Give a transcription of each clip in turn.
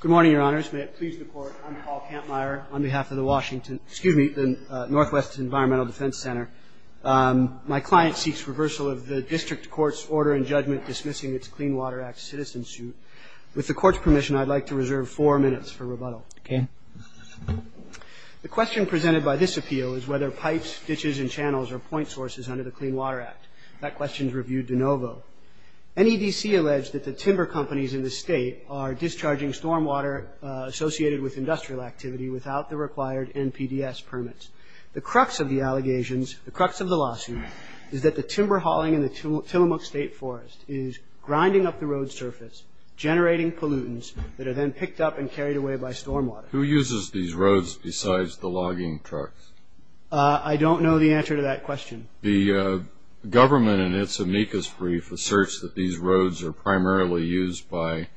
Good morning, Your Honors. May it please the Court, I'm Paul Kampmeyer on behalf of the Northwest Environmental Defense Center. My client seeks reversal of the District Court's order in judgment dismissing its Clean Water Act citizen suit. With the Court's permission, I'd like to reserve four minutes for rebuttal. The question presented by this appeal is whether pipes, ditches, and channels are point sources under the Clean Water Act. That question is reviewed de novo. NEDC alleged that the timber companies in the state are discharging stormwater associated with industrial activity without the required NPDES permits. The crux of the allegations, the crux of the lawsuit, is that the timber hauling in the Tillamook State Forest is grinding up the road surface, generating pollutants that are then picked up and carried away by stormwater. Who uses these roads besides the logging trucks? I don't know the answer to that question. The government in its amicus brief asserts that these roads are primarily used by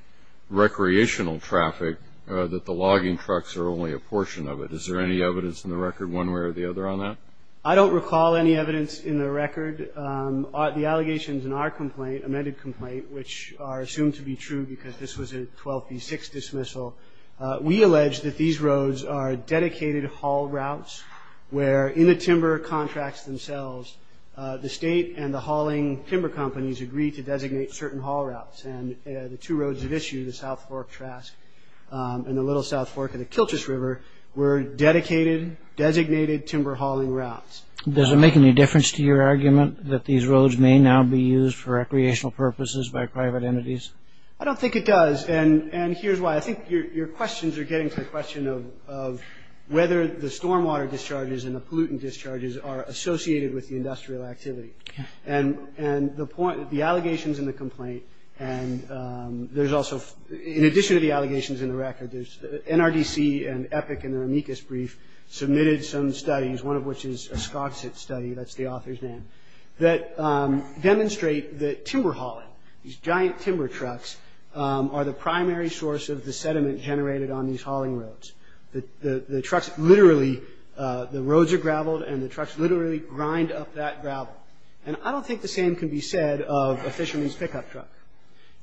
recreational traffic, that the logging trucks are only a portion of it. Is there any evidence in the record one way or the other on that? I don't recall any evidence in the record. The allegations in our complaint, amended complaint, which are assumed to be true because this was a 12b6 dismissal, we allege that these roads are dedicated haul routes where, in the timber contracts themselves, the state and the hauling timber companies agreed to designate certain haul routes. The two roads at issue, the South Fork Trask and the Little South Fork and the Kilchis River, were dedicated, designated timber hauling routes. Does it make any difference to your argument that these roads may now be used for recreational purposes by private entities? I don't think it does. And here's why. I think your questions are getting to the question of whether the stormwater discharges and the pollutant discharges are associated with the industrial activity. And the allegations in the complaint and there's also, in addition to the allegations in the record, NRDC and EPIC in their amicus brief submitted some studies, one of which is a Scogsit study, that's the author's name, that demonstrate that timber hauling, these giant timber trucks, are the primary source of the sediment generated on these hauling roads. The trucks literally, the roads are graveled and the trucks literally grind up that gravel. And I don't think the same can be said of a fisherman's pickup truck.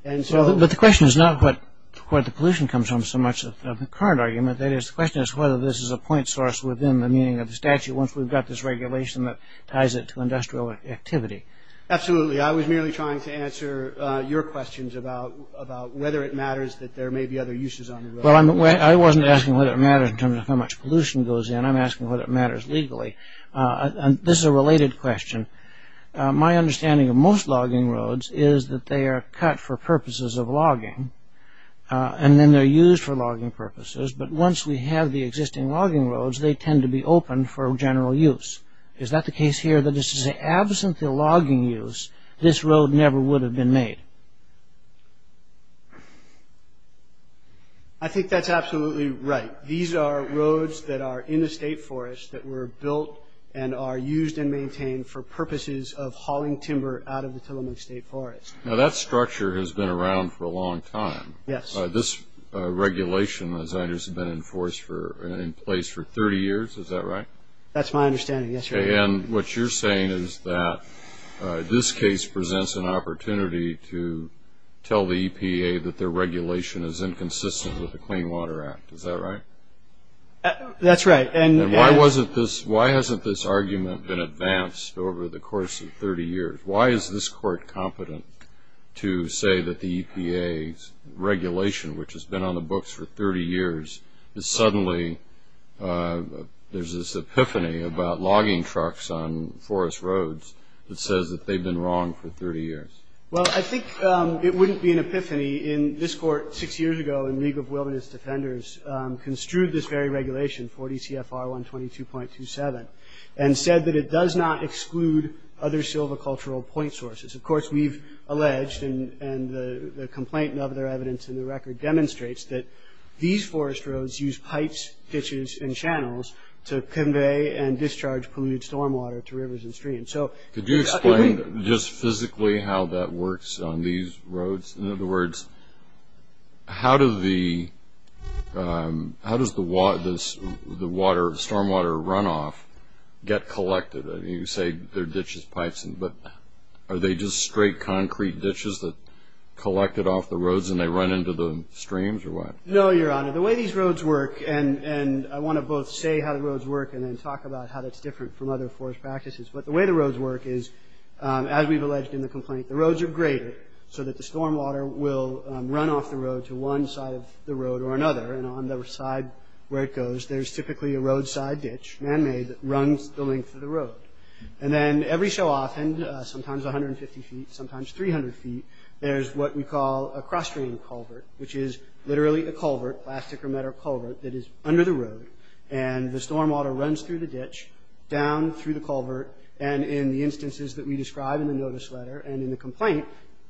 But the question is not what the pollution comes from so much of the current argument. The question is whether this is a point source within the meaning of the statute once we've got this regulation that ties it to industrial activity. Absolutely. I was merely trying to answer your questions about whether it matters that there may be other uses on the road. Well, I wasn't asking whether it matters in terms of how much pollution goes in. I'm asking whether it matters legally. And this is a related question. My understanding of most logging roads is that they are cut for purposes of logging and then they're used for logging purposes. But once we have the existing logging roads, they tend to be open for general use. Is that the case here, that this is absent the logging use, this road never would have been made? I think that's absolutely right. These are roads that are in the state forest that were built and are used and maintained for purposes of hauling timber out of the Tillamook State Forest. Now that structure has been around for a long time. Yes. This regulation has been in place for 30 years, is that right? That's my understanding, yes. And what you're saying is that this case presents an opportunity to tell the EPA that their regulation is inconsistent with the Clean Water Act, is that right? That's right. And why hasn't this argument been advanced over the course of 30 years? Why is this court competent to say that the EPA's regulation, which has been on the books for 30 years, that suddenly there's this epiphany about logging trucks on forest roads that says that they've been wrong for 30 years? Well, I think it wouldn't be an epiphany in this court six years ago in League of Wilderness Defenders construed this very regulation, 40 CFR 122.27, and said that it does not exclude other silvicultural point sources. Of course, we've alleged and the complaint and other evidence in the record demonstrates that these forest roads use pipes, ditches, and channels to convey and discharge polluted stormwater to rivers and streams. Could you explain just physically how that works on these roads? In other words, how does the stormwater runoff get collected? You say they're ditches, pipes, but are they just straight concrete ditches that are collected off the roads and they run into the streams or what? No, Your Honor. The way these roads work, and I want to both say how the roads work and then talk about how that's different from other forest practices, but the way the roads work is, as we've alleged in the complaint, the roads are graded so that the stormwater will run off the road to one side of the road or another, and on the side where it goes, there's typically a roadside ditch, man-made, that runs the length of the road. And then every so often, sometimes 150 feet, sometimes 300 feet, there's what we call a cross-stream culvert, which is literally a culvert, plastic or metal culvert, that is under the road, and the stormwater runs through the ditch, down through the culvert, and in the instances that we describe in the notice letter and in the complaint,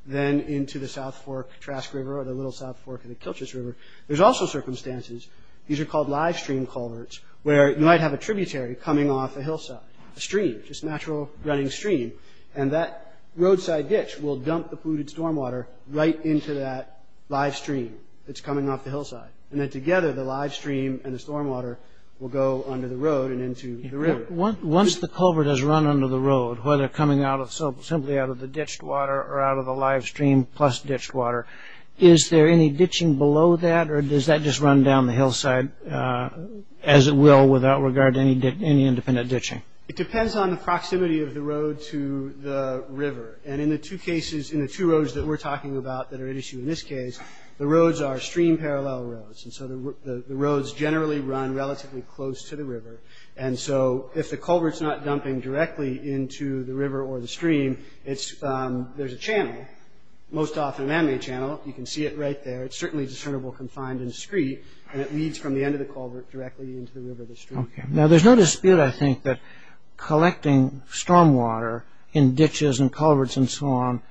then into the South Fork, Trask River, or the Little South Fork of the Kilchis River. There's also circumstances, these are called live stream culverts, where you might have a tributary coming off a hillside, a stream, just a natural running stream, and that roadside ditch will dump the polluted stormwater right into that live stream that's coming off the hillside, and then together the live stream and the stormwater will go under the road and into the river. Once the culvert has run under the road, whether coming simply out of the ditched water or out of the live stream plus ditched water, is there any ditching below that, or does that just run down the hillside as it will without regard to any independent ditching? It depends on the proximity of the road to the river, and in the two cases, in the two roads that we're talking about that are at issue in this case, the roads are stream parallel roads, and so the roads generally run relatively close to the river, and so if the culvert's not dumping directly into the river or the stream, there's a channel, most often a man-made channel. You can see it right there. It's certainly discernible confined and discreet, and it leads from the end of the culvert directly into the river or the stream. Now, there's no dispute, I think, that collecting stormwater in ditches and culverts and so on,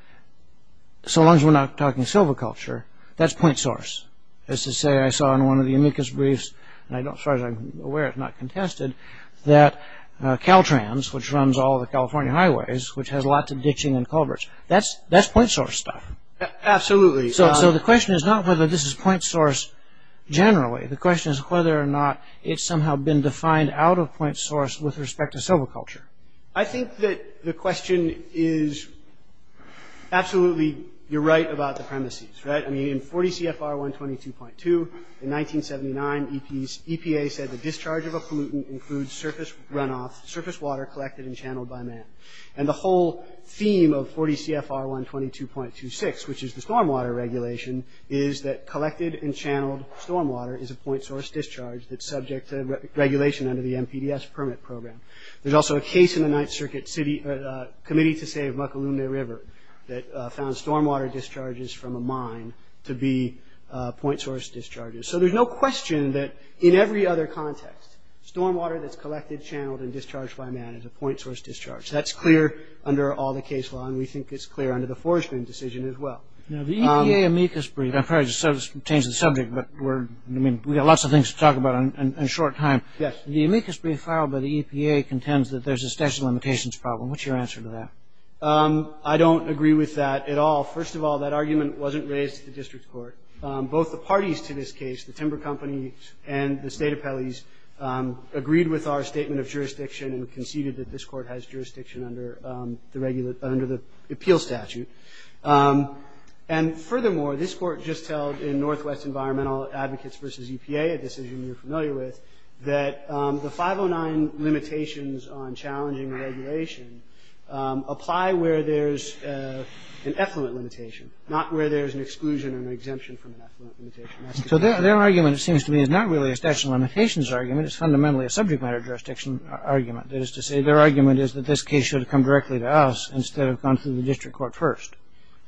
so long as we're not talking silviculture, that's point source. As to say, I saw in one of the amicus briefs, and as far as I'm aware it's not contested, that Caltrans, which runs all the California highways, which has lots of ditching and culverts, that's point source stuff. Absolutely. So the question is not whether this is point source generally. The question is whether or not it's somehow been defined out of point source with respect to silviculture. I think that the question is absolutely, you're right about the premises, right? In 40 CFR 122.2, in 1979, EPA said, the discharge of a pollutant includes surface runoff, surface water collected and channeled by man. And the whole theme of 40 CFR 122.26, which is the stormwater regulation, is that collected and channeled stormwater is a point source discharge that's subject to regulation under the NPDES permit program. There's also a case in the 9th Circuit Committee to Save Mucalumna River that found stormwater discharges from a mine to be point source discharges. So there's no question that in every other context, stormwater that's collected, channeled, and discharged by man is a point source discharge. That's clear under all the case law, and we think it's clear under the forestry decision as well. Now, the EPA amicus brief, I'm sorry to change the subject, but we've got lots of things to talk about in a short time. The amicus brief filed by the EPA contends that there's a statute of limitations problem. What's your answer to that? I don't agree with that at all. First of all, that argument wasn't raised at the district court. Both the parties to this case, the timber company and the state appellees, agreed with our statement of jurisdiction and conceded that this court has jurisdiction under the appeal statute. And furthermore, this court just held in Northwest Environmental Advocates v. EPA, a decision you're familiar with, that the 509 limitations on challenging regulation apply where there's an effluent limitation, not where there's an exclusion or an exemption from an effluent limitation. So their argument, it seems to me, is not really a statute of limitations argument. It's fundamentally a subject matter jurisdiction argument. That is to say, their argument is that this case should have come directly to us instead of gone through the district court first.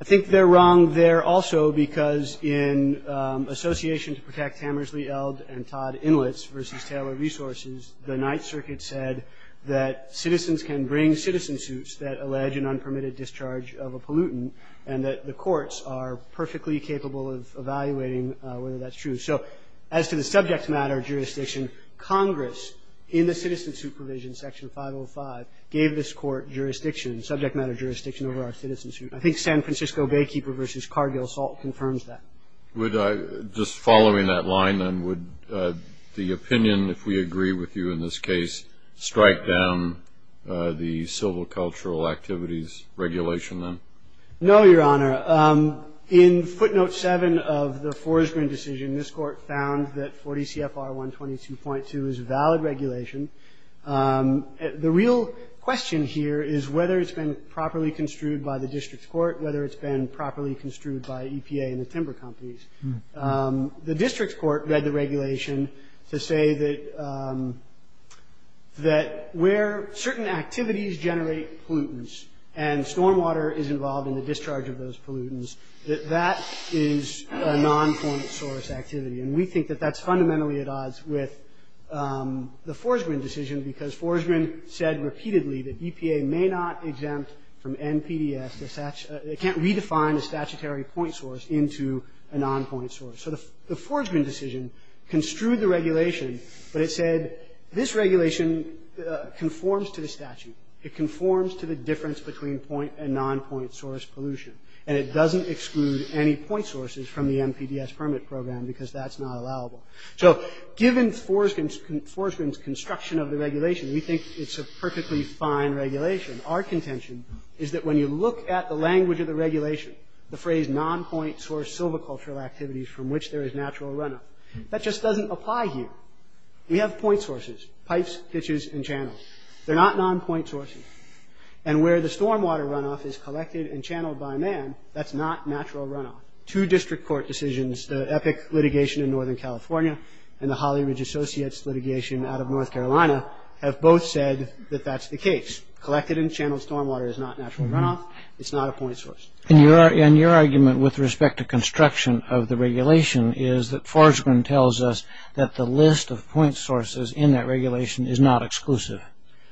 I think they're wrong there also because in association to protect Hammersley, Eld, and Todd Inlets v. Taylor Resources, the Ninth Circuit said that citizens can bring citizen suits that allege an unpermitted discharge of a pollutant and that the courts are perfectly capable of evaluating whether that's true. So as to the subject matter jurisdiction, Congress in the citizen suit provision, Section 505, gave this court jurisdiction, subject matter jurisdiction over our citizen suit. I think San Francisco Baykeeper v. Cargill Salt confirms that. Just following that line then, would the opinion, if we agree with you in this case, strike down the civil cultural activities regulation then? No, Your Honor. In footnote 7 of the Forsgren decision, this court found that 40 CFR 122.2 is a valid regulation. The real question here is whether it's been properly construed by the district court, whether it's been properly construed by EPA and the timber companies. The district court read the regulation to say that where certain activities generate pollutants and stormwater is involved in the discharge of those pollutants, that that is a nonpoint source activity. And we think that that's fundamentally at odds with the Forsgren decision because Forsgren said repeatedly that EPA may not exempt from NPDES. It can't redefine a statutory point source into a nonpoint source. So the Forsgren decision construed the regulation, but it said this regulation conforms to the statute. It conforms to the difference between point and nonpoint source pollution, and it doesn't exclude any point sources from the NPDES permit program because that's not allowable. So given Forsgren's construction of the regulation, we think it's a perfectly fine regulation. Our contention is that when you look at the language of the regulation, the phrase nonpoint source civil cultural activities from which there is natural runoff, that just doesn't apply here. We have point sources, pipes, ditches, and channels. They're not nonpoint sources. And where the stormwater runoff is collected and channeled by man, that's not natural runoff. Two district court decisions, the Epic litigation in Northern California and the Holly Ridge Associates litigation out of North Carolina, have both said that that's the case. Collected and channeled stormwater is not natural runoff. It's not a point source. And your argument with respect to construction of the regulation is that Forsgren tells us that the list of point sources in that regulation is not exclusive.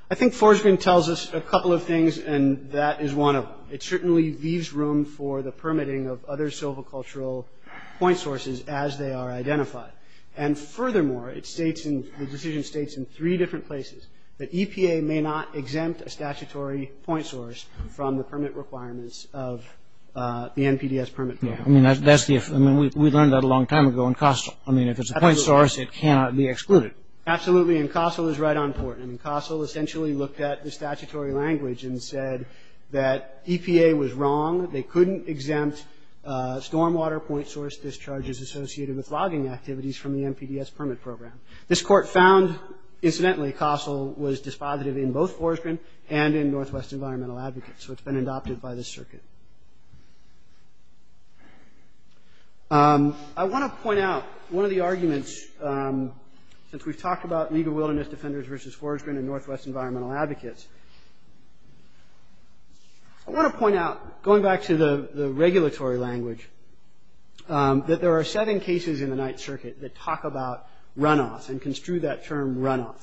I think Forsgren tells us a couple of things, and that is one of them. It certainly leaves room for the permitting of other civil cultural point sources as they are identified. And furthermore, the decision states in three different places that EPA may not exempt a statutory point source from the permit requirements of the NPDES permit program. I mean, we learned that a long time ago in Kostal. I mean, if it's a point source, it cannot be excluded. Absolutely, and Kostal is right on point. I mean, Kostal essentially looked at the statutory language and said that EPA was wrong. They couldn't exempt stormwater point source discharges associated with logging activities from the NPDES permit program. This court found, incidentally, Kostal was dispositive in both Forsgren and in Northwest Environmental Advocates, so it's been adopted by this circuit. I want to point out one of the arguments, since we've talked about legal wilderness defenders versus Forsgren and Northwest Environmental Advocates, I want to point out, going back to the regulatory language, that there are seven cases in the Ninth Circuit that talk about runoff and construe that term runoff.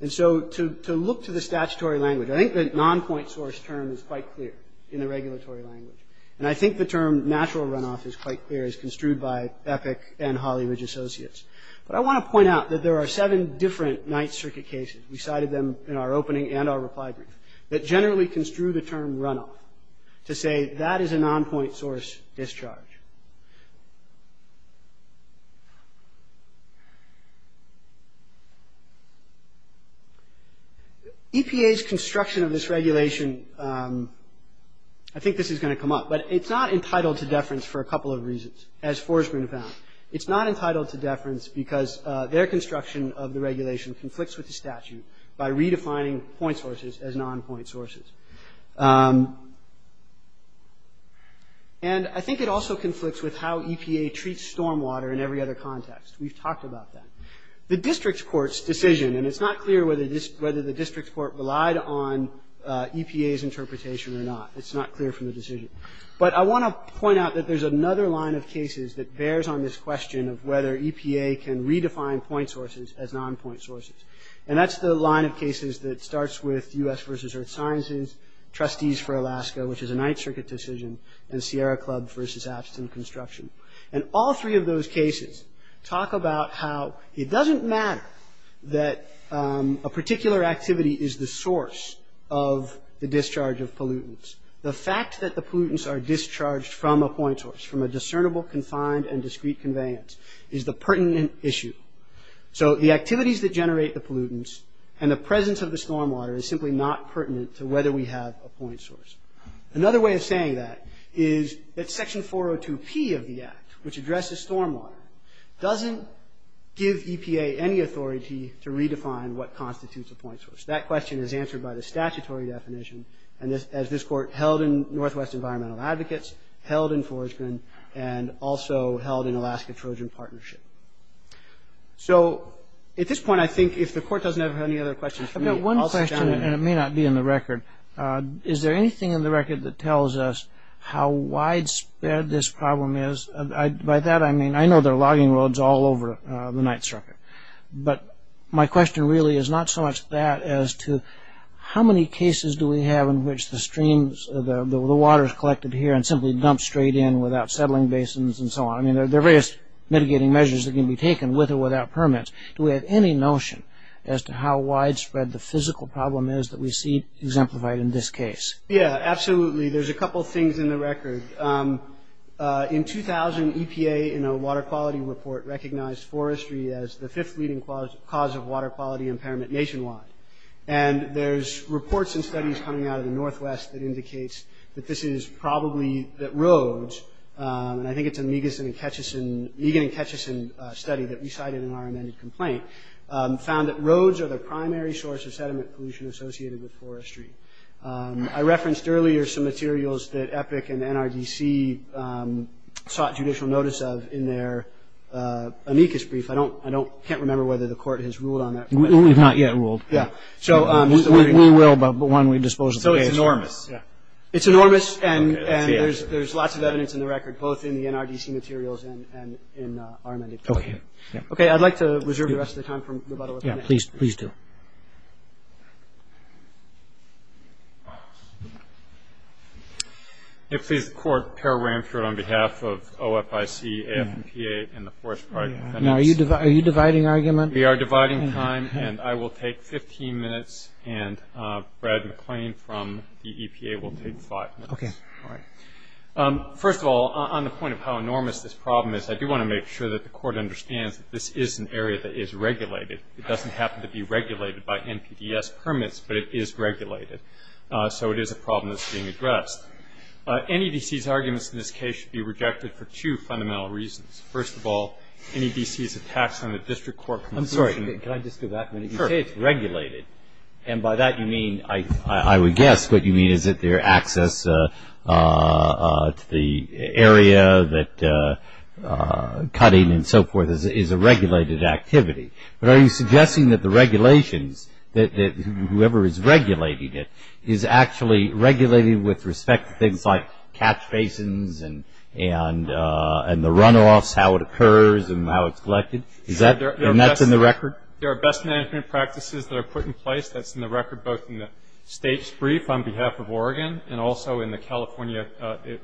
And so to look to the statutory language, I think the non-point source term is quite clear in the regulatory language, and I think the term natural runoff is quite clear, as construed by Epic and Hollywood Associates. But I want to point out that there are seven different Ninth Circuit cases, we cited them in our opening and our reply brief, that generally construe the term runoff, to say that is a non-point source discharge. EPA's construction of this regulation, I think this is going to come up, but it's not entitled to deference for a couple of reasons, as Forsgren found. It's not entitled to deference because their construction of the regulation conflicts with the statute by redefining point sources as non-point sources. And I think it also conflicts with how EPA treats stormwater in every other context. We've talked about that. The district court's decision, and it's not clear whether the district court relied on EPA's interpretation or not. It's not clear from the decision. But I want to point out that there's another line of cases that bears on this question of whether EPA can redefine point sources as non-point sources. And that's the line of cases that starts with U.S. versus Earth Sciences, Trustees for Alaska, which is a Ninth Circuit decision, and Sierra Club versus Abstin Construction. And all three of those cases talk about how it doesn't matter that a particular activity is the source of the discharge of pollutants. The fact that the pollutants are discharged from a point source, from a discernible, confined, and discrete conveyance, is the pertinent issue. So the activities that generate the pollutants and the presence of the stormwater is simply not pertinent to whether we have a point source. Another way of saying that is that Section 402P of the Act, which addresses stormwater, doesn't give EPA any authority to redefine what constitutes a point source. That question is answered by the statutory definition, as this court held in Northwest Environmental Advocates, held in Forsgren, and also held in Alaska Trojan Partnership. So, at this point, I think if the court doesn't have any other questions for me, I'll stop. One question, and it may not be in the record, is there anything in the record that tells us how widespread this problem is? By that I mean, I know there are logging roads all over the Ninth Circuit, but my question really is not so much that as to how many cases do we have in which the streams, the water is collected here and simply dumped straight in without settling basins and so on. I mean, there are various mitigating measures that can be taken with or without permits. Do we have any notion as to how widespread the physical problem is that we see exemplified in this case? Yeah, absolutely. There's a couple things in the record. In 2000, EPA, in a water quality report, recognized forestry as the fifth leading cause of water quality impairment nationwide. And there's reports and studies coming out of the Northwest that indicates that this is probably that roads, and I think it's a Meegan and Ketchison study that we cited in our amended complaint, found that roads are the primary source of sediment pollution associated with forestry. I referenced earlier some materials that EPIC and NRDC sought judicial notice of in their amicus brief. I can't remember whether the court has ruled on that. We've not yet ruled. Yeah. We will, but when we dispose of the data. So it's enormous. Yeah. It's enormous, and there's lots of evidence in the record, both in the NRDC materials and in our amended complaint. Okay. Okay, I'd like to reserve the rest of the time for rebuttal if I may. Yeah, please do. If it pleases the Court, Perel Ramchur on behalf of OFIC, AFMPA, and the Forest Project. Are you dividing argument? We are dividing time, and I will take 15 minutes. And Brad McLean from the EPA will take five minutes. Okay. All right. First of all, on the point of how enormous this problem is, I do want to make sure that the Court understands that this is an area that is regulated. It doesn't happen to be regulated by NPDES permits, but it is regulated. So it is a problem that's being addressed. NEDC's arguments in this case should be rejected for two fundamental reasons. First of all, NEDC's attacks on the district court. I'm sorry. Can I just do that? Sure. So you say it's regulated. And by that you mean, I would guess, what you mean is that their access to the area that cutting and so forth is a regulated activity. But are you suggesting that the regulations, that whoever is regulating it, is actually regulated with respect to things like catch basins and the runoffs, how it occurs and how it's collected? And that's in the record? There are best management practices that are put in place. That's in the record both in the state's brief on behalf of Oregon and also in the California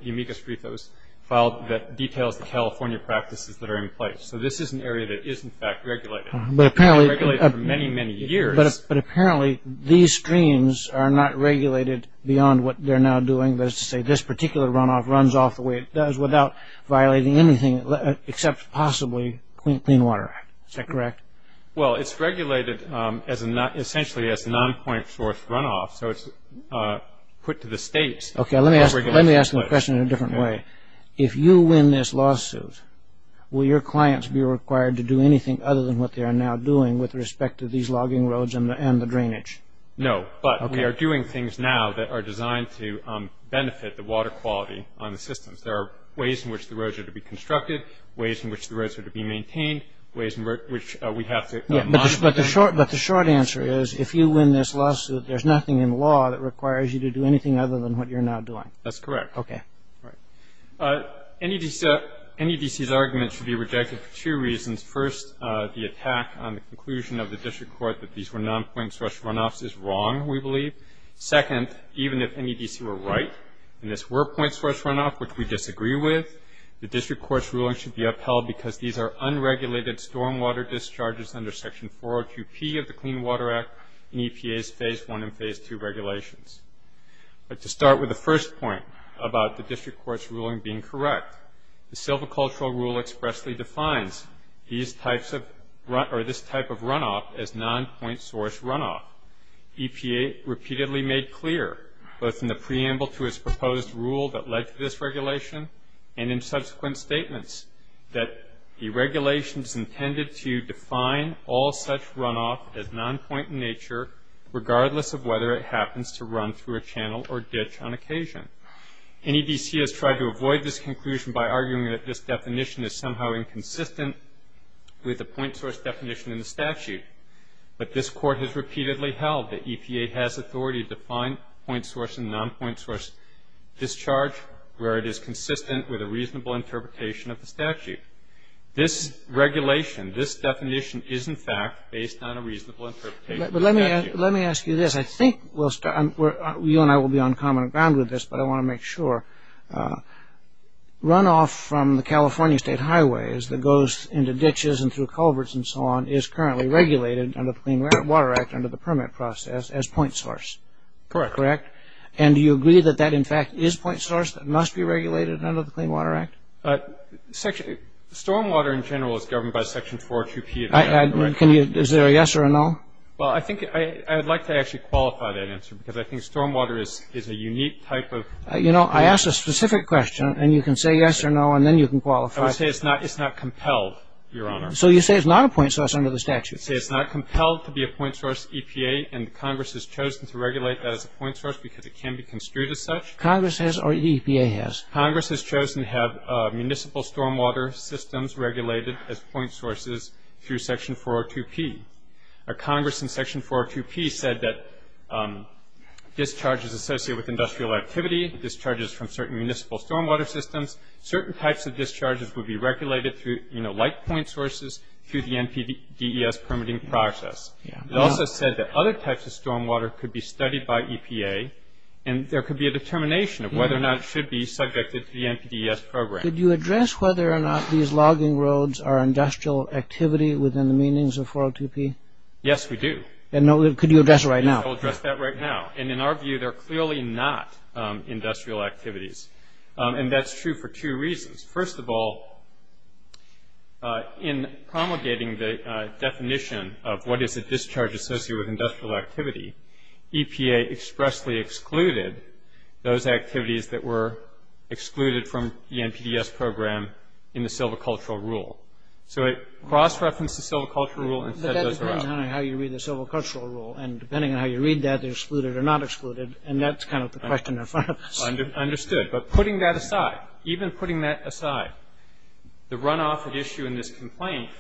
amicus brief that was filed that details the California practices that are in place. So this is an area that is, in fact, regulated. It's been regulated for many, many years. But apparently these streams are not regulated beyond what they're now doing. That is to say, this particular runoff runs off the way it does without violating anything except possibly Clean Water Act. Is that correct? Well, it's regulated essentially as a nonpoint source runoff. So it's put to the states. Okay, let me ask the question in a different way. If you win this lawsuit, will your clients be required to do anything other than what they are now doing with respect to these logging roads and the drainage? No, but we are doing things now that are designed to benefit the water quality on the systems. There are ways in which the roads are to be constructed, ways in which the roads are to be maintained, ways in which we have to monitor. But the short answer is if you win this lawsuit, there's nothing in law that requires you to do anything other than what you're now doing. That's correct. Okay. NEDC's argument should be rejected for two reasons. First, the attack on the conclusion of the district court that these were nonpoint source runoffs is wrong, we believe. Second, even if NEDC were right and this were point source runoff, which we disagree with, the district court's ruling should be upheld because these are unregulated stormwater discharges under Section 402P of the Clean Water Act in EPA's Phase I and Phase II regulations. But to start with the first point about the district court's ruling being correct, the silvicultural rule expressly defines these types of runoff, or this type of runoff, as nonpoint source runoff. EPA repeatedly made clear, both in the preamble to its proposed rule that led to this regulation and in subsequent statements, that the regulation is intended to define all such runoff as nonpoint in nature, regardless of whether it happens to run through a channel or ditch on occasion. NEDC has tried to avoid this conclusion by arguing that this definition is somehow inconsistent with the point source definition in the statute. But this court has repeatedly held that EPA has authority to define point source and nonpoint source discharge where it is consistent with a reasonable interpretation of the statute. This regulation, this definition, is in fact based on a reasonable interpretation of the statute. Let me ask you this. I think you and I will be on common ground with this, but I want to make sure. Runoff from the California state highways that goes into ditches and through culverts and so on is currently regulated under the Clean Water Act under the permit process as point source. Correct. Correct. And do you agree that that in fact is point source that must be regulated under the Clean Water Act? Stormwater in general is governed by Section 402P. Is there a yes or a no? Well, I think I would like to actually qualify that answer because I think stormwater is a unique type of... You know, I asked a specific question and you can say yes or no and then you can qualify. I would say it's not compelled, Your Honor. So you say it's not a point source under the statute. I would say it's not compelled to be a point source EPA and Congress has chosen to regulate that as a point source because it can be construed as such. Congress has or EPA has? Congress has chosen to have municipal stormwater systems regulated as point sources through Section 402P. Congress in Section 402P said that discharges associated with industrial activity, discharges from certain municipal stormwater systems, certain types of discharges would be regulated through, you know, like point sources through the NPDES permitting process. It also said that other types of stormwater could be studied by EPA and there could be a determination of whether or not it should be subjected to the NPDES program. Could you address whether or not these logging roads are industrial activity within the meanings of 402P? Yes, we do. And could you address it right now? I'll address that right now. And in our view, they're clearly not industrial activities. And that's true for two reasons. First of all, in promulgating the definition of what is a discharge associated with industrial activity, EPA expressly excluded those activities that were excluded from the NPDES program in the silvicultural rule. So it cross-referenced the silvicultural rule and set those around. But that depends on how you read the silvicultural rule. And depending on how you read that, they're excluded or not excluded. And that's kind of the question in front of us. Understood. But putting that aside, even putting that aside, the runoff at issue in this complaint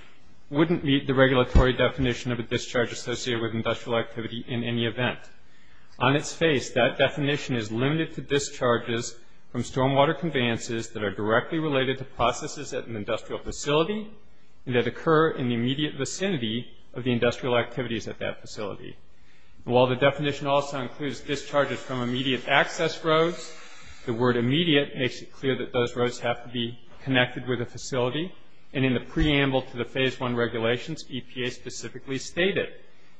wouldn't meet the regulatory definition of a discharge associated with industrial activity in any event. On its face, that definition is limited to discharges from stormwater conveyances that are directly related to processes at an industrial facility and that occur in the immediate vicinity of the industrial activities at that facility. While the definition also includes discharges from immediate access roads, the word immediate makes it clear that those roads have to be connected with a facility. And in the preamble to the Phase I regulations, EPA specifically stated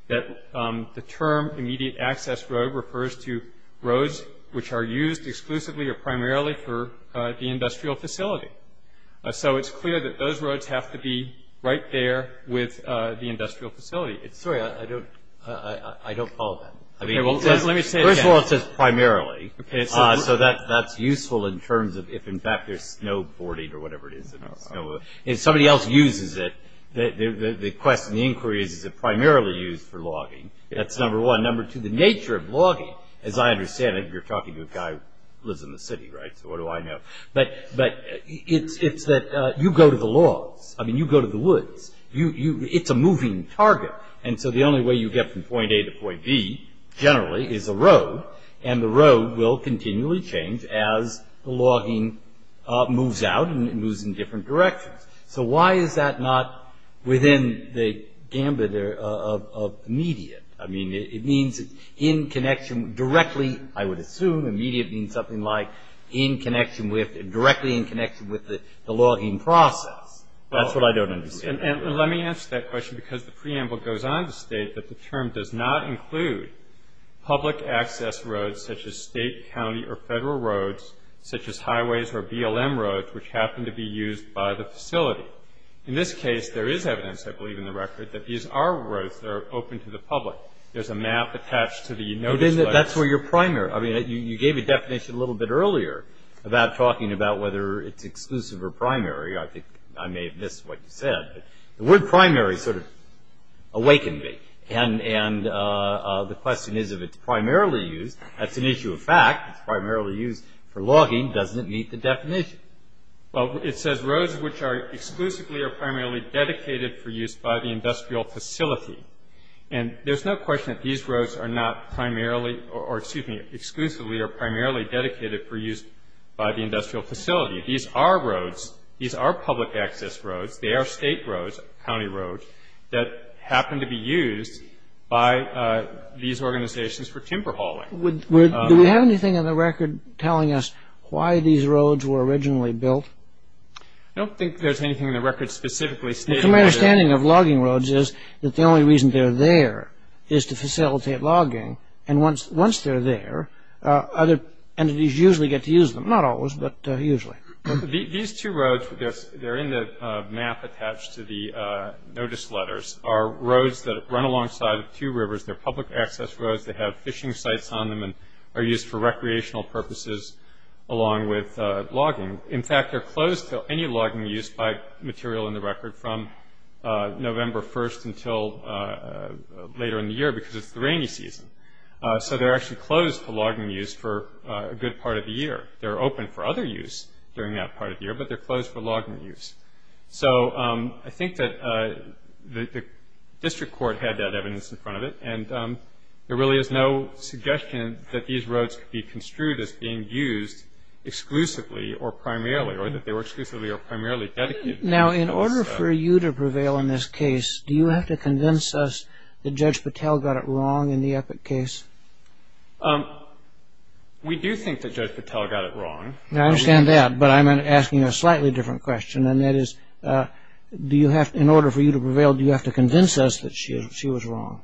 that the term immediate access road refers to roads which are used exclusively or primarily for the industrial facility. So it's clear that those roads have to be right there with the industrial facility. Sorry, I don't follow that. First of all, it says primarily. So that's useful in terms of if, in fact, there's snowboarding or whatever it is. If somebody else uses it, the question, the inquiry is, is it primarily used for logging? That's number one. Number two, the nature of logging, as I understand it, you're talking to a guy who lives in the city, right? So what do I know? But it's that you go to the logs. I mean, you go to the woods. It's a moving target. And so the only way you get from point A to point B generally is a road, and the road will continually change as the logging moves out and moves in different directions. So why is that not within the gambit of immediate? I mean, it means in connection directly, I would assume, immediate means something like in connection with, directly in connection with the logging process. That's what I don't understand. And let me ask that question because the preamble goes on to state that the term does not include public access roads such as state, county, or federal roads, such as highways or BLM roads, which happen to be used by the facility. In this case, there is evidence, I believe in the record, that these are roads that are open to the public. There's a map attached to the notice. That's where your primary. I mean, you gave a definition a little bit earlier about talking about whether it's exclusive or primary. I think I may have missed what you said. The word primary sort of awakened me, and the question is if it's primarily used. That's an issue of fact. It's primarily used for logging. Doesn't it meet the definition? Well, it says roads which are exclusively or primarily dedicated for use by the industrial facility. And there's no question that these roads are not primarily or, excuse me, exclusively or primarily dedicated for use by the industrial facility. These are roads. These are public access roads. They are state roads, county roads, that happen to be used by these organizations for timber hauling. Do we have anything in the record telling us why these roads were originally built? I don't think there's anything in the record specifically stating that. My understanding of logging roads is that the only reason they're there is to facilitate logging, and once they're there, other entities usually get to use them. Not always, but usually. These two roads, they're in the map attached to the notice letters, are roads that run alongside two rivers. They're public access roads. They have fishing sites on them and are used for recreational purposes along with logging. In fact, they're closed to any logging use by material in the record from November 1st until later in the year because it's the rainy season. So they're actually closed to logging use for a good part of the year. They're open for other use during that part of the year, but they're closed for logging use. So I think that the district court had that evidence in front of it, and there really is no suggestion that these roads could be construed as being used exclusively or primarily, or that they were exclusively or primarily dedicated. Now, in order for you to prevail in this case, do you have to convince us that Judge Patel got it wrong in the Epic case? We do think that Judge Patel got it wrong. I understand that, but I'm asking a slightly different question, and that is, in order for you to prevail, do you have to convince us that she was wrong?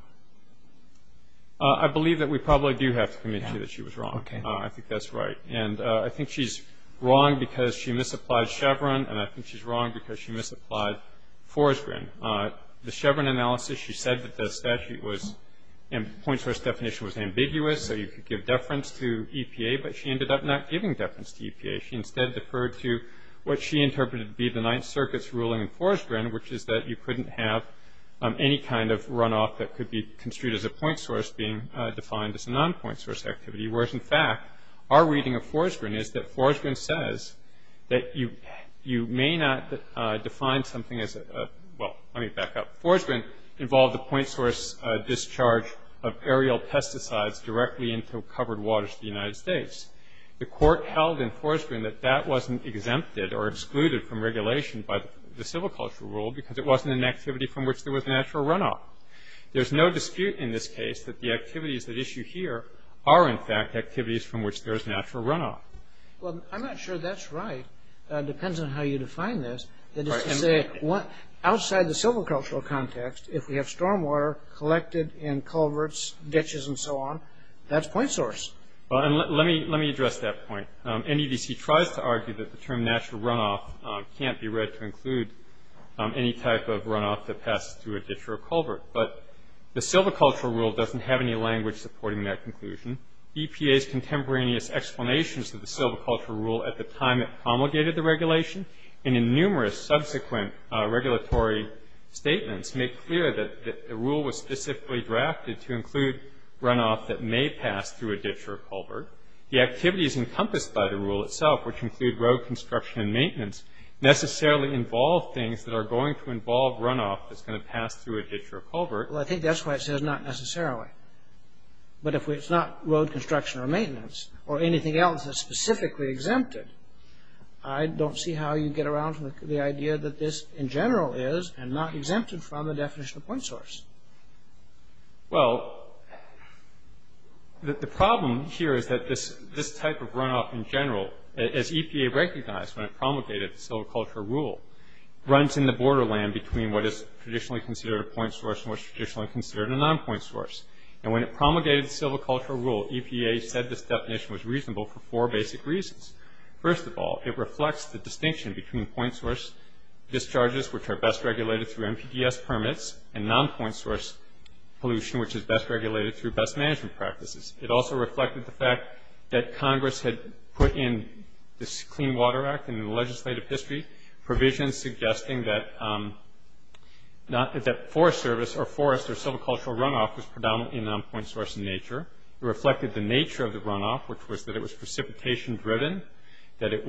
I believe that we probably do have to convince you that she was wrong. I think that's right. And I think she's wrong because she misapplied Chevron, and I think she's wrong because she misapplied Forsgren. The Chevron analysis, she said that the statute was in point source definition was ambiguous, so you could give deference to EPA, but she ended up not giving deference to EPA. She instead deferred to what she interpreted to be the Ninth Circuit's ruling in Forsgren, which is that you couldn't have any kind of runoff that could be construed as a point source being defined as a non-point source activity, whereas, in fact, our reading of Forsgren is that Forsgren says that you may not define something as a – well, let me back up. Forsgren involved a point source discharge of aerial pesticides directly into covered waters of the United States. The court held in Forsgren that that wasn't exempted or excluded from regulation by the civil cultural rule because it wasn't an activity from which there was natural runoff. There's no dispute in this case that the activities at issue here are, in fact, activities from which there is natural runoff. Well, I'm not sure that's right. It depends on how you define this. That is to say, outside the civil cultural context, if we have stormwater collected in culverts, ditches, and so on, that's point source. Well, and let me address that point. NEDC tries to argue that the term natural runoff can't be read to include any type of runoff that passes through a ditch or a culvert, but the civil cultural rule doesn't have any language supporting that conclusion. EPA's contemporaneous explanations of the civil cultural rule at the time it promulgated the regulation and in numerous subsequent regulatory statements make clear that the rule was specifically drafted to include runoff The activities encompassed by the rule itself, which include road construction and maintenance, necessarily involve things that are going to involve runoff that's going to pass through a ditch or a culvert. Well, I think that's why it says not necessarily. But if it's not road construction or maintenance or anything else that's specifically exempted, I don't see how you get around to the idea that this in general is and not exempted from the definition of point source. Well, the problem here is that this type of runoff in general, as EPA recognized when it promulgated the civil cultural rule, runs in the borderland between what is traditionally considered a point source and what's traditionally considered a non-point source. And when it promulgated the civil cultural rule, EPA said this definition was reasonable for four basic reasons. First of all, it reflects the distinction between point source discharges, which are best regulated through NPDES permits, and non-point source pollution, which is best regulated through best management practices. It also reflected the fact that Congress had put in this Clean Water Act in the legislative history, provisions suggesting that forest service or forest or civil cultural runoff was predominantly non-point source in nature. It reflected the nature of the runoff, which was that it was precipitation driven, that it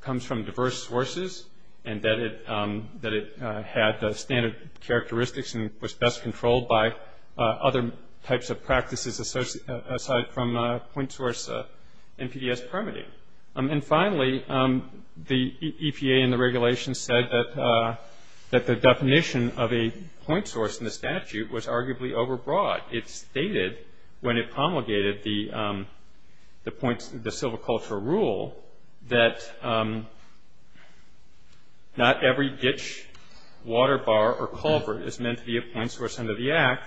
comes from diverse sources, and that it had standard characteristics and was best controlled by other types of practices aside from point source NPDES permitting. And finally, the EPA and the regulations said that the definition of a point source in the statute was arguably overbroad. It stated, when it promulgated the civil cultural rule, that not every ditch, water bar, or culvert is meant to be a point source under the Act,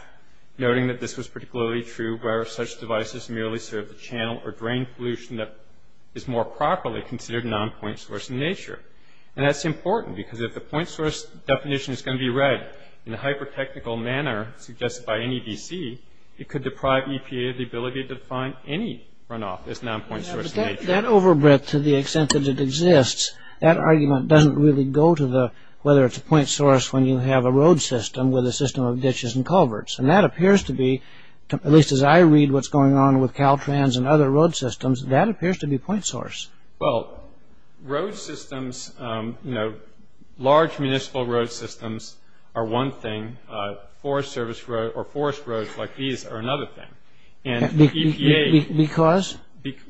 noting that this was particularly true where such devices merely serve the channel or drain pollution that is more properly considered non-point source in nature. And that's important, because if the point source definition is going to be read in a hyper-technical manner suggested by NEDC, it could deprive EPA of the ability to define any runoff as non-point source in nature. But that overbreadth to the extent that it exists, that argument doesn't really go to whether it's a point source when you have a road system with a system of ditches and culverts. And that appears to be, at least as I read what's going on with Caltrans and other road systems, that appears to be point source. Well, road systems, you know, large municipal road systems are one thing. Forest service road or forest roads like these are another thing. And EPA ---- Because?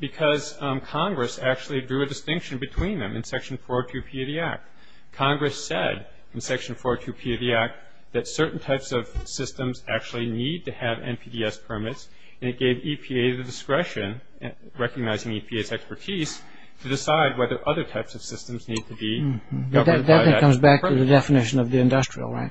Because Congress actually drew a distinction between them in Section 402P of the Act. Congress said in Section 402P of the Act that certain types of systems actually need to have NPDES permits, and it gave EPA the discretion, recognizing EPA's expertise, to decide whether other types of systems need to be governed by that permit. That then comes back to the definition of the industrial, right?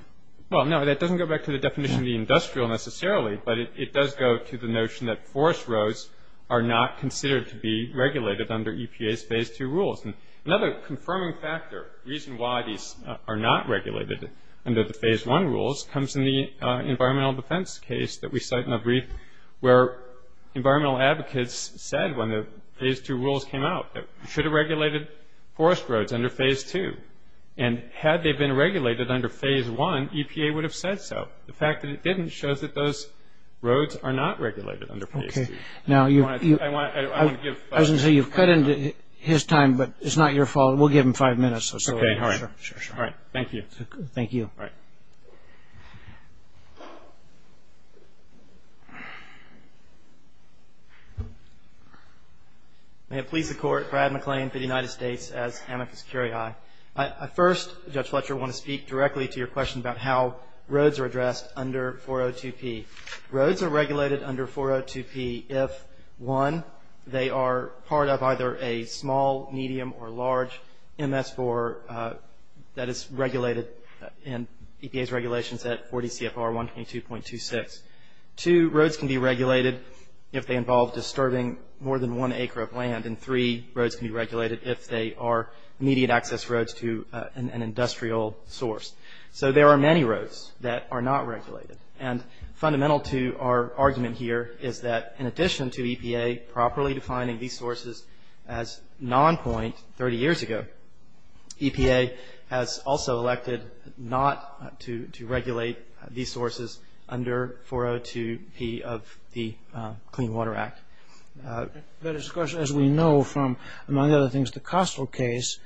Well, no, that doesn't go back to the definition of the industrial necessarily, but it does go to the notion that forest roads are not considered to be regulated under EPA's Phase 2 rules. And another confirming factor, reason why these are not regulated under the Phase 1 rules, comes in the environmental defense case that we cite in a brief, where environmental advocates said when the Phase 2 rules came out that we should have regulated forest roads under Phase 2. And had they been regulated under Phase 1, EPA would have said so. The fact that it didn't shows that those roads are not regulated under Phase 2. Okay. Now you've ---- I want to give ---- I was going to say you've cut into his time, but it's not your fault. We'll give him five minutes or so. Okay, all right. Sure, sure. All right. Thank you. Thank you. All right. May it please the Court, Brad McLean for the United States, as amicus curiae. First, Judge Fletcher, I want to speak directly to your question about how roads are addressed under 402P. Roads are regulated under 402P if, one, they are part of either a small, medium, or large MS4 that is regulated in EPA's regulations at 40 CFR 122.26. Two, roads can be regulated if they involve disturbing more than one acre of land. And three, roads can be regulated if they are immediate access roads to an industrial source. So there are many roads that are not regulated. And fundamental to our argument here is that in addition to EPA properly defining these sources as non-point 30 years ago, EPA has also elected not to regulate these sources under 402P of the Clean Water Act. But, of course, as we know from, among other things, the Kostel case,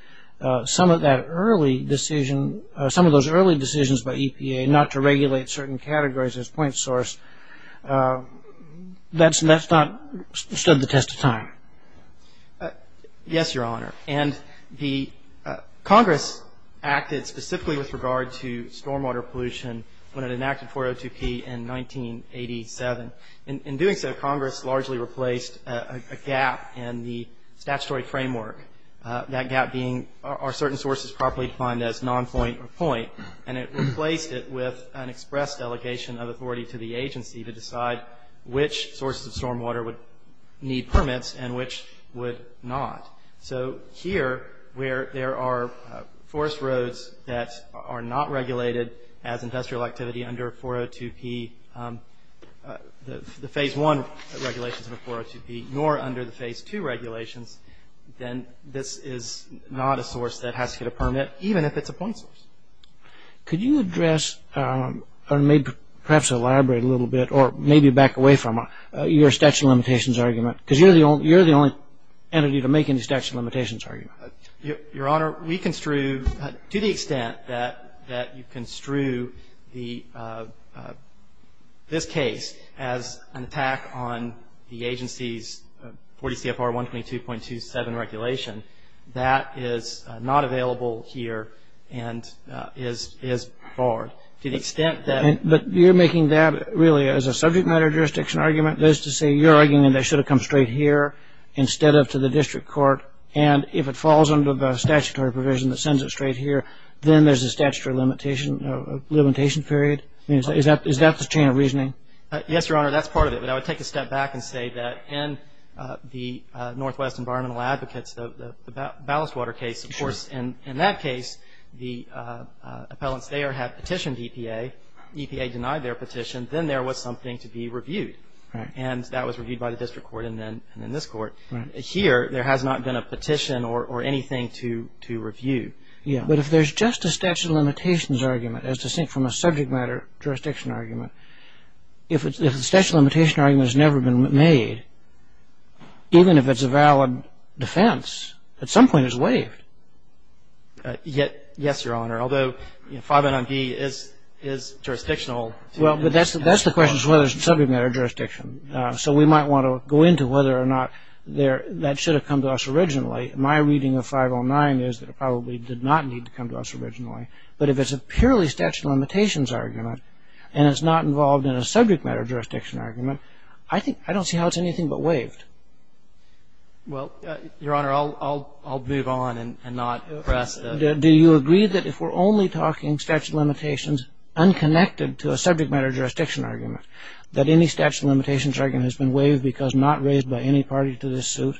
some of that early decision, some of those early decisions by EPA not to regulate certain categories as point source, that's not stood the test of time. Yes, Your Honor. And the Congress acted specifically with regard to stormwater pollution when it enacted 402P in 1987. In doing so, Congress largely replaced a gap in the statutory framework, that gap being are certain sources properly defined as non-point or point, and it replaced it with an express delegation of authority to the agency to decide which sources of stormwater would need permits and which would not. So here, where there are forest roads that are not regulated as industrial activity under 402P, the Phase I regulations of the 402P, nor under the Phase II regulations, then this is not a source that has to get a permit, even if it's a point source. Could you address, or maybe perhaps elaborate a little bit, or maybe back away from your statute of limitations argument, because you're the only entity to make any statute of limitations argument. Your Honor, we construe, to the extent that you construe this case as an attack on the agency's 40 CFR 122.2, 122.7 regulation, that is not available here and is barred. To the extent that- But you're making that really as a subject matter jurisdiction argument, that is to say you're arguing that it should have come straight here instead of to the district court, and if it falls under the statutory provision that sends it straight here, then there's a statutory limitation period? Is that the chain of reasoning? Yes, Your Honor, that's part of it. I would take a step back and say that in the Northwest Environmental Advocates, the ballast water case, of course, in that case, the appellants there had petitioned EPA. EPA denied their petition. Then there was something to be reviewed, and that was reviewed by the district court and then this court. Here, there has not been a petition or anything to review. But if there's just a statute of limitations argument as distinct from a subject matter jurisdiction argument, if the statute of limitations argument has never been made, even if it's a valid defense, at some point it's waived. Yes, Your Honor, although 509B is jurisdictional. Well, but that's the question as to whether it's a subject matter jurisdiction. So we might want to go into whether or not that should have come to us originally. My reading of 509 is that it probably did not need to come to us originally. But if it's a purely statute of limitations argument and it's not involved in a subject matter jurisdiction argument, I think I don't see how it's anything but waived. Well, Your Honor, I'll move on and not press. Do you agree that if we're only talking statute of limitations unconnected to a subject matter jurisdiction argument, that any statute of limitations argument has been waived because not raised by any party to this suit?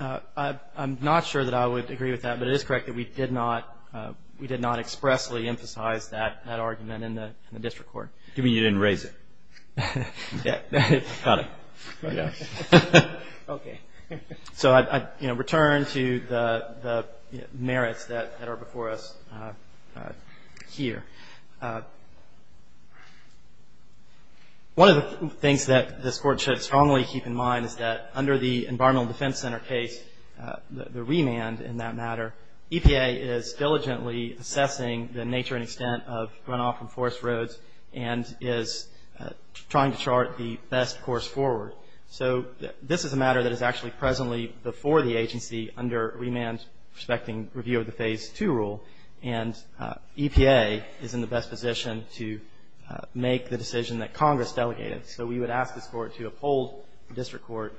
I'm not sure that I would agree with that. But it is correct that we did not expressly emphasize that argument in the district court. Do you mean you didn't raise it? Yes. Got it. Yes. Okay. So I return to the merits that are before us here. One of the things that this Court should strongly keep in mind is that under the Environmental Defense Center case, the remand in that matter, EPA is diligently assessing the nature and extent of runoff from forest roads and is trying to chart the best course forward. So this is a matter that is actually presently before the agency under remand respecting review of the Phase 2 rule. And EPA is in the best position to make the decision that Congress delegated. So we would ask this Court to uphold the district court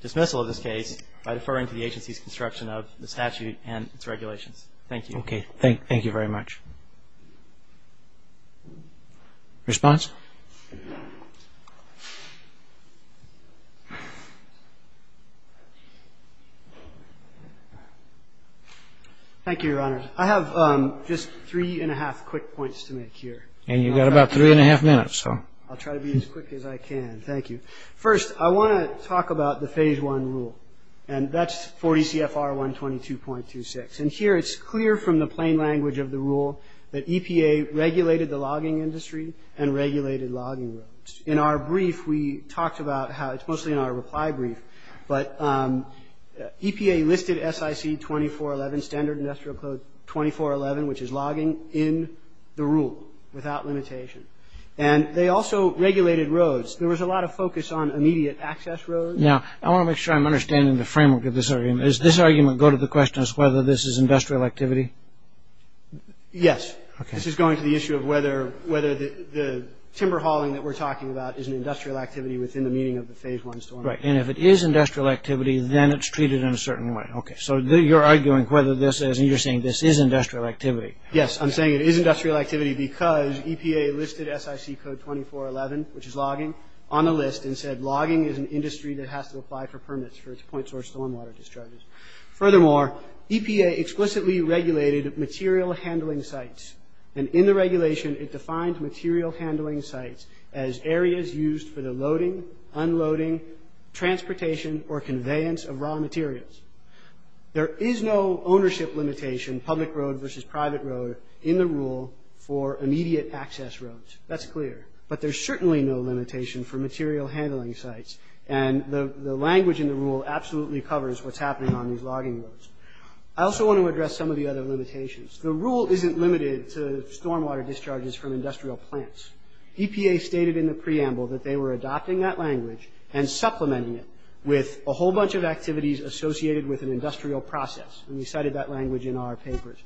dismissal of this case by deferring to the agency's construction of the statute and its regulations. Thank you. Okay. Thank you very much. Response? Thank you, Your Honor. I have just three and a half quick points to make here. And you've got about three and a half minutes, so. I'll try to be as quick as I can. Thank you. First, I want to talk about the Phase 1 rule. And that's 40 CFR 122.26. And here it's clear from the plain language of the rule that EPA regulated the logging industry and regulated the forest roads. In our brief, we talked about how it's mostly in our reply brief. But EPA listed SIC 2411, Standard Industrial Code 2411, which is logging in the rule without limitation. And they also regulated roads. There was a lot of focus on immediate access roads. Now, I want to make sure I'm understanding the framework of this argument. Does this argument go to the question as to whether this is industrial activity? Yes. Okay. This is going to the issue of whether the timber hauling that we're talking about is an industrial activity within the meaning of the Phase 1 stormwater. Right. And if it is industrial activity, then it's treated in a certain way. Okay. So you're arguing whether this is, and you're saying this is industrial activity. Yes. I'm saying it is industrial activity because EPA listed SIC Code 2411, which is logging, on the list and said logging is an industry that has to apply for permits for its point source stormwater discharges. Furthermore, EPA explicitly regulated material handling sites. And in the regulation, it defined material handling sites as areas used for the loading, unloading, transportation, or conveyance of raw materials. There is no ownership limitation, public road versus private road, in the rule for immediate access roads. That's clear. But there's certainly no limitation for material handling sites. And the language in the rule absolutely covers what's happening on these logging roads. I also want to address some of the other limitations. The rule isn't limited to stormwater discharges from industrial plants. EPA stated in the preamble that they were adopting that language and supplementing it with a whole bunch of activities associated with an industrial process. And we cited that language in our papers.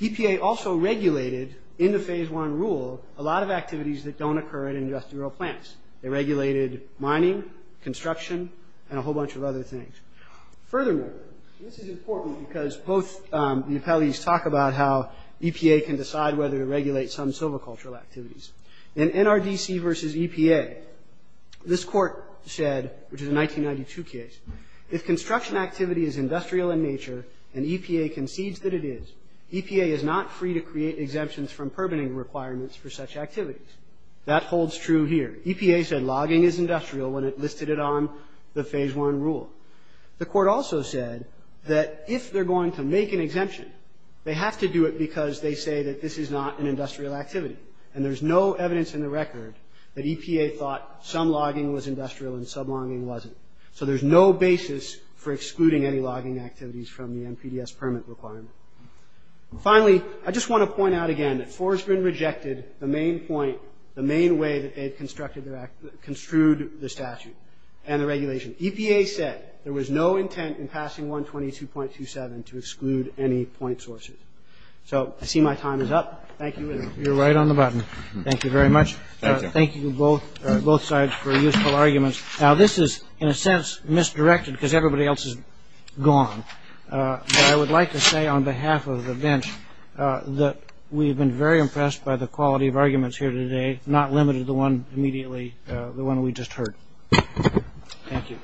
EPA also regulated, in the Phase 1 rule, a lot of activities that don't occur at industrial plants. They regulated mining, construction, and a whole bunch of other things. Furthermore, this is important because both the appellees talk about how EPA can decide whether to regulate some silvicultural activities. In NRDC versus EPA, this court said, which is a 1992 case, if construction activity is industrial in nature and EPA concedes that it is, EPA is not free to create exemptions from permitting requirements for such activities. That holds true here. EPA said logging is industrial when it listed it on the Phase 1 rule. The court also said that if they're going to make an exemption, they have to do it because they say that this is not an industrial activity. And there's no evidence in the record that EPA thought some logging was industrial and some logging wasn't. So there's no basis for excluding any logging activities from the NPDES permit requirement. Finally, I just want to point out again that Forsgren rejected the main point, the main way that they construed the statute and the regulation. EPA said there was no intent in passing 122.27 to exclude any point sources. So I see my time is up. Thank you. You're right on the button. Thank you very much. Thank you. Thank you, both sides, for your useful arguments. Now, this is, in a sense, misdirected because everybody else is gone. But I would like to say on behalf of the bench that we have been very impressed by the quality of arguments here today, not limited to the one immediately, the one we just heard. Thank you.